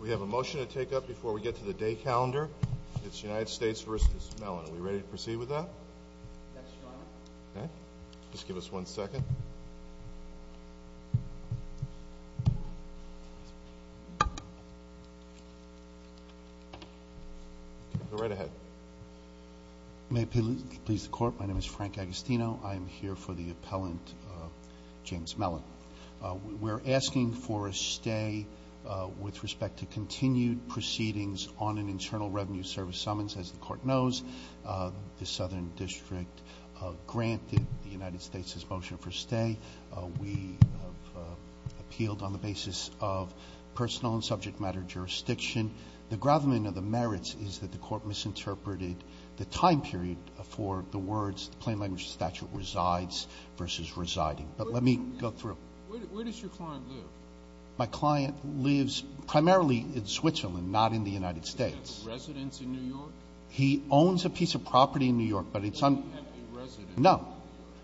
We have a motion to take up before we get to the day calendar. It's United States v. James Mellon. Are we ready to proceed with that? Yes, Your Honor. Okay. Just give us one second. Go right ahead. May it please the Court, my name is Frank Agostino. I am here for the appellant James Mellon. We're asking for a stay with respect to continued proceedings on an Internal Revenue Service summons. As the Court knows, the Southern District granted the United States' motion for stay. We have appealed on the basis of personal and subject matter jurisdiction. The gravamen of the merits is that the Court misinterpreted the time period for the words, because the plain language statute resides versus residing. But let me go through. Where does your client live? My client lives primarily in Switzerland, not in the United States. Does he have a residence in New York? He owns a piece of property in New York, but it's on – Does he have a residence in New York? No.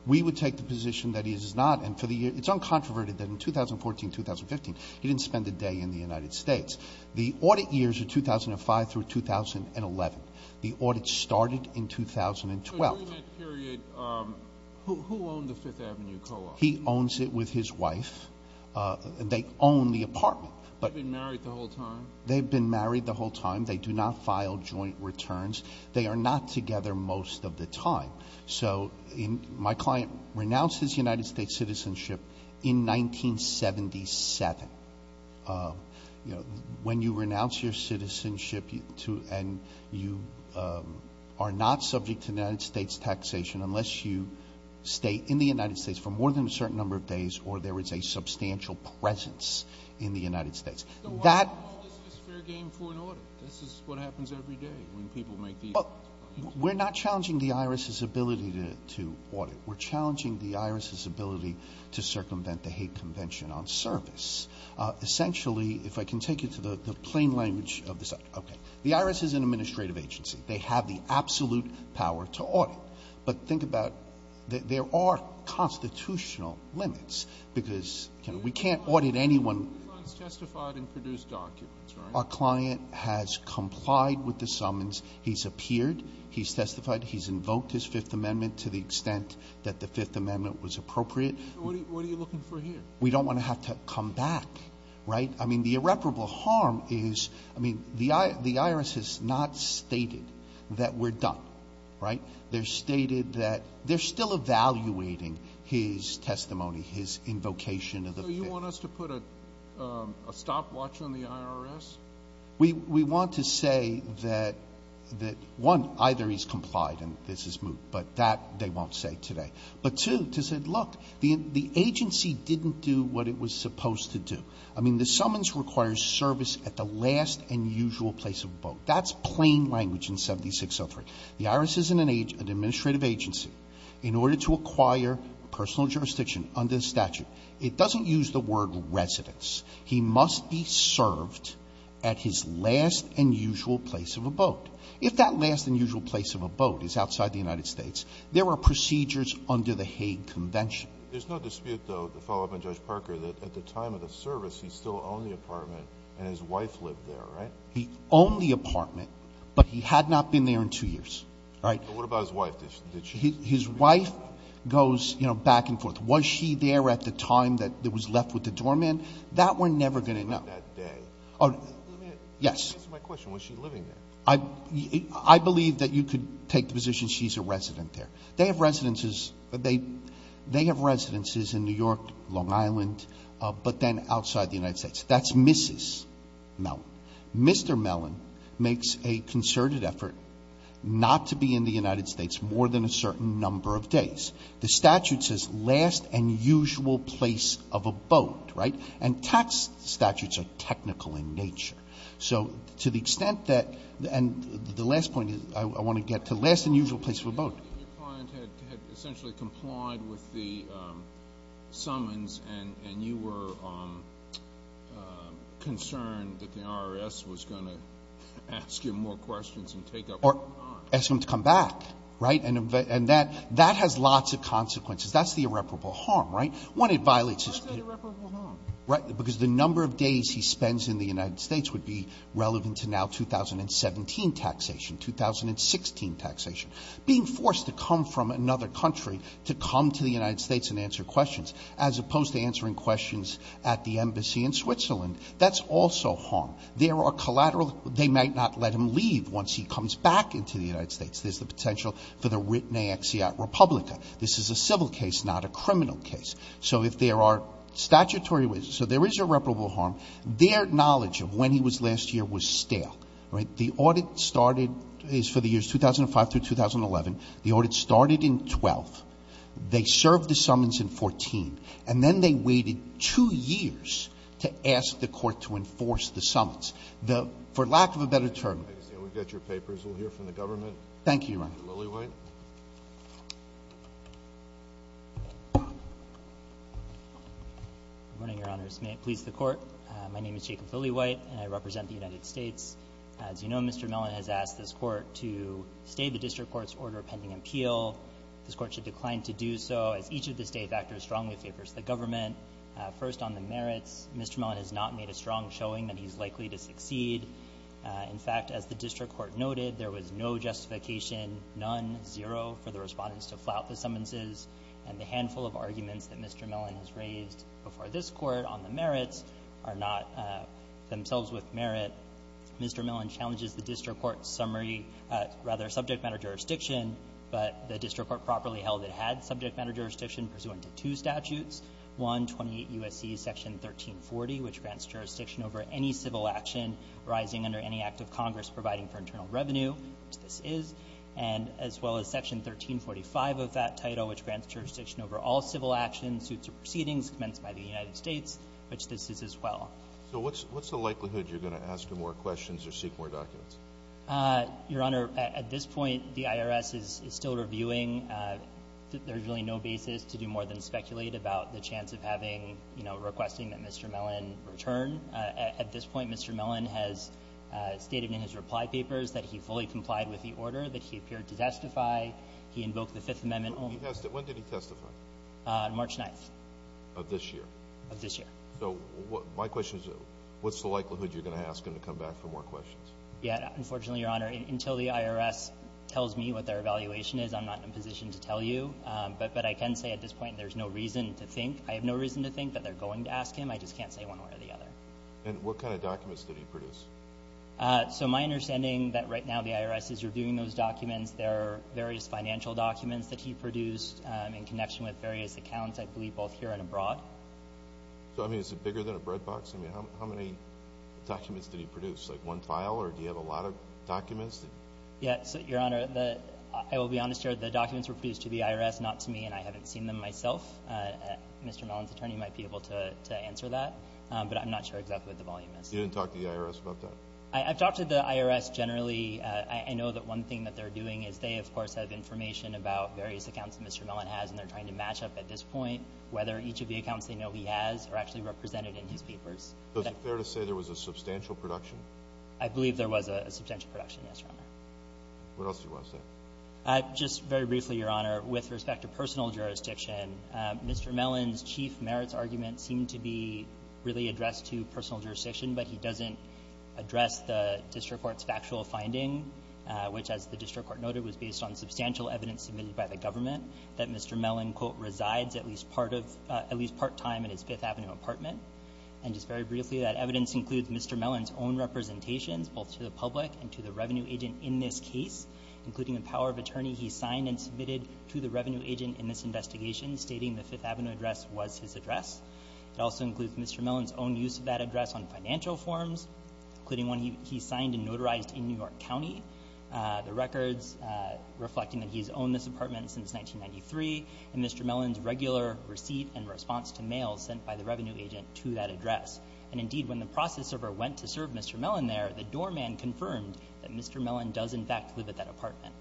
We would take the position that he does not. And for the year – it's uncontroverted that in 2014, 2015, he didn't spend a day in the United States. The audit years are 2005 through 2011. The audit started in 2012. During that period, who owned the Fifth Avenue co-op? He owns it with his wife. They own the apartment. They've been married the whole time? They've been married the whole time. They do not file joint returns. They are not together most of the time. So my client renounces United States citizenship in 1977. When you renounce your citizenship and you are not subject to United States taxation unless you stay in the United States for more than a certain number of days or there is a substantial presence in the United States. So why call this a fair game for an audit? This is what happens every day when people make these claims. We're not challenging the IRS's ability to audit. We're challenging the IRS's ability to circumvent the hate convention on service. Essentially, if I can take you to the plain language of this – okay. The IRS is an administrative agency. They have the absolute power to audit. But think about – there are constitutional limits because we can't audit anyone. Your client has testified and produced documents, right? Our client has complied with the summons. He's appeared. He's testified. He's invoked his Fifth Amendment to the extent that the Fifth Amendment was appropriate. What are you looking for here? We don't want to have to come back, right? I mean, the irreparable harm is – I mean, the IRS has not stated that we're done, right? They've stated that – they're still evaluating his testimony, his invocation of the Fifth. So you want us to put a stopwatch on the IRS? We want to say that, one, either he's complied and this is moved, but that they won't say today. But, two, to say, look, the agency didn't do what it was supposed to do. I mean, the summons requires service at the last and usual place of vote. That's plain language in 7603. The IRS is an administrative agency. In order to acquire personal jurisdiction under the statute, it doesn't use the word residence. He must be served at his last and usual place of abode. If that last and usual place of abode is outside the United States, there are procedures under the Hague Convention. There's no dispute, though, to follow up on Judge Parker, that at the time of the service, he still owned the apartment and his wife lived there, right? He owned the apartment, but he had not been there in two years, right? What about his wife? His wife goes, you know, back and forth. Was she there at the time that was left with the doorman? That we're never going to know. She was there that day. Yes. Answer my question. Was she living there? I believe that you could take the position she's a resident there. They have residences in New York, Long Island, but then outside the United States. That's Mrs. Mellon. Mr. Mellon makes a concerted effort not to be in the United States more than a certain number of days. The statute says last and usual place of abode, right? And tax statutes are technical in nature. So to the extent that the last point I want to get to, last and usual place of abode. Your client had essentially complied with the summons and you were concerned that the IRS was going to ask him more questions and take up more time. Or ask him to come back, right? And that has lots of consequences. That's the irreparable harm, right? One, it violates his duty. What is that irreparable harm? Because the number of days he spends in the United States would be relevant to now 2017 taxation, 2016 taxation. Being forced to come from another country to come to the United States and answer questions, as opposed to answering questions at the embassy in Switzerland, that's also harm. There are collateral. They might not let him leave once he comes back into the United States. There's the potential for the writ naexiat republica. This is a civil case, not a criminal case. So if there are statutory reasons, so there is irreparable harm. Their knowledge of when he was last year was stale, right? The audit started, it's for the years 2005 through 2011. The audit started in 12. They served the summons in 14. And then they waited two years to ask the Court to enforce the summons. The, for lack of a better term. We've got your papers. We'll hear from the government. Mr. Lilliewhite. Good morning, Your Honors. May it please the Court. My name is Jacob Lilliewhite, and I represent the United States. As you know, Mr. Mellon has asked this Court to stay the district court's order pending appeal. This Court should decline to do so, as each of the state factors strongly favors the government. to succeed. In fact, as the district court noted, there was no justification, none, zero, for the respondents to flout the summonses. And the handful of arguments that Mr. Mellon has raised before this Court on the merits are not themselves with merit. Mr. Mellon challenges the district court's summary, rather subject matter jurisdiction, but the district court properly held it had subject matter jurisdiction pursuant to two statutes, one, 28 U.S.C. Section 1340, which grants jurisdiction over any civil action arising under any act of Congress providing for internal revenue, which this is, and as well as Section 1345 of that title, which grants jurisdiction over all civil actions, suits, or proceedings commenced by the United States, which this is as well. So what's the likelihood you're going to ask him more questions or seek more documents? Your Honor, at this point, the IRS is still reviewing. There's really no basis to do more than speculate about the chance of having, you know, requesting that Mr. Mellon return. At this point, Mr. Mellon has stated in his reply papers that he fully complied with the order that he appeared to testify. He invoked the Fifth Amendment only. When did he testify? On March 9th. Of this year? Of this year. So my question is, what's the likelihood you're going to ask him to come back for more questions? Yeah, unfortunately, Your Honor, until the IRS tells me what their evaluation is, I'm not in a position to tell you. But I can say at this point there's no reason to think. I have no reason to think that they're going to ask him. I just can't say one way or the other. And what kind of documents did he produce? So my understanding that right now the IRS is reviewing those documents. There are various financial documents that he produced in connection with various accounts, I believe, both here and abroad. So, I mean, is it bigger than a bread box? I mean, how many documents did he produce? Like one file, or do you have a lot of documents? Yeah, so, Your Honor, I will be honest here. The documents were produced to the IRS, not to me, and I haven't seen them myself. Mr. Mellon's attorney might be able to answer that. But I'm not sure exactly what the volume is. You didn't talk to the IRS about that? I've talked to the IRS generally. I know that one thing that they're doing is they, of course, have information about various accounts Mr. Mellon has, and they're trying to match up at this point whether each of the accounts they know he has are actually represented in his papers. Is it fair to say there was a substantial production? I believe there was a substantial production, yes, Your Honor. What else do you want to say? Just very briefly, Your Honor, with respect to personal jurisdiction, Mr. Mellon's chief merits argument seemed to be really addressed to personal jurisdiction, but he doesn't address the district court's factual finding, which as the district court noted was based on substantial evidence submitted by the government that Mr. Mellon, quote, resides at least part of at least part-time in his Fifth Avenue apartment. And just very briefly, that evidence includes Mr. Mellon's own representations both to the public and to the revenue agent in this case, including the power of attorney he signed and submitted to the revenue agent in this investigation, stating the Fifth Avenue address was his address. It also includes Mr. Mellon's own use of that address on financial forms, including one he signed and notarized in New York County, the records reflecting that he's owned this apartment since 1993, and that he's a revenue agent to that address. And indeed, when the process server went to serve Mr. Mellon there, the doorman confirmed that Mr. Mellon does in fact live at that apartment.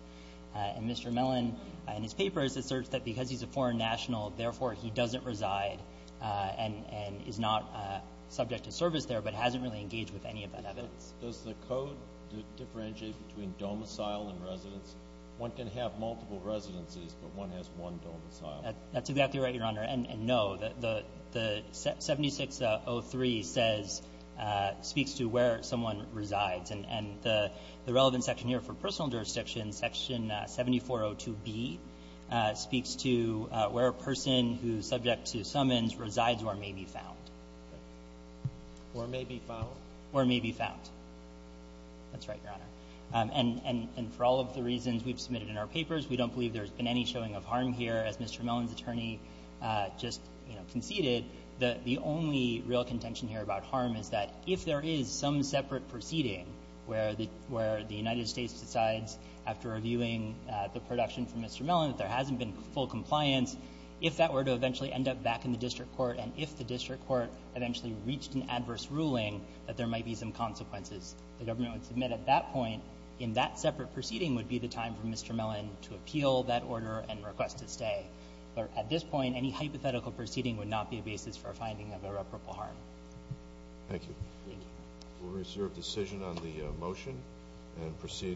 And Mr. Mellon in his paper asserts that because he's a foreign national, therefore he doesn't reside and is not subject to service there, but hasn't really engaged with any of that evidence. Does the code differentiate between domicile and residence? One can have multiple residencies, but one has one domicile. That's exactly right, Your Honor. And no, the 7603 speaks to where someone resides. And the relevant section here for personal jurisdiction, section 7402B speaks to where a person who is subject to summons resides or may be found. Or may be found? Or may be found. That's right, Your Honor. And for all of the reasons we've submitted in our papers, we don't believe there's been any showing of harm here. As Mr. Mellon's attorney just conceded, the only real contention here about harm is that if there is some separate proceeding where the United States decides after reviewing the production from Mr. Mellon that there hasn't been full compliance, if that were to eventually end up back in the district court, and if the district court eventually reached an adverse ruling, that there might be some consequences, the government would submit at that point in that separate proceeding would be the time for Mr. Mellon to appeal that order and request his stay. But at this point, any hypothetical proceeding would not be a basis for a finding of irreparable harm. Thank you. Thank you. We'll reserve decision on the motion and proceed.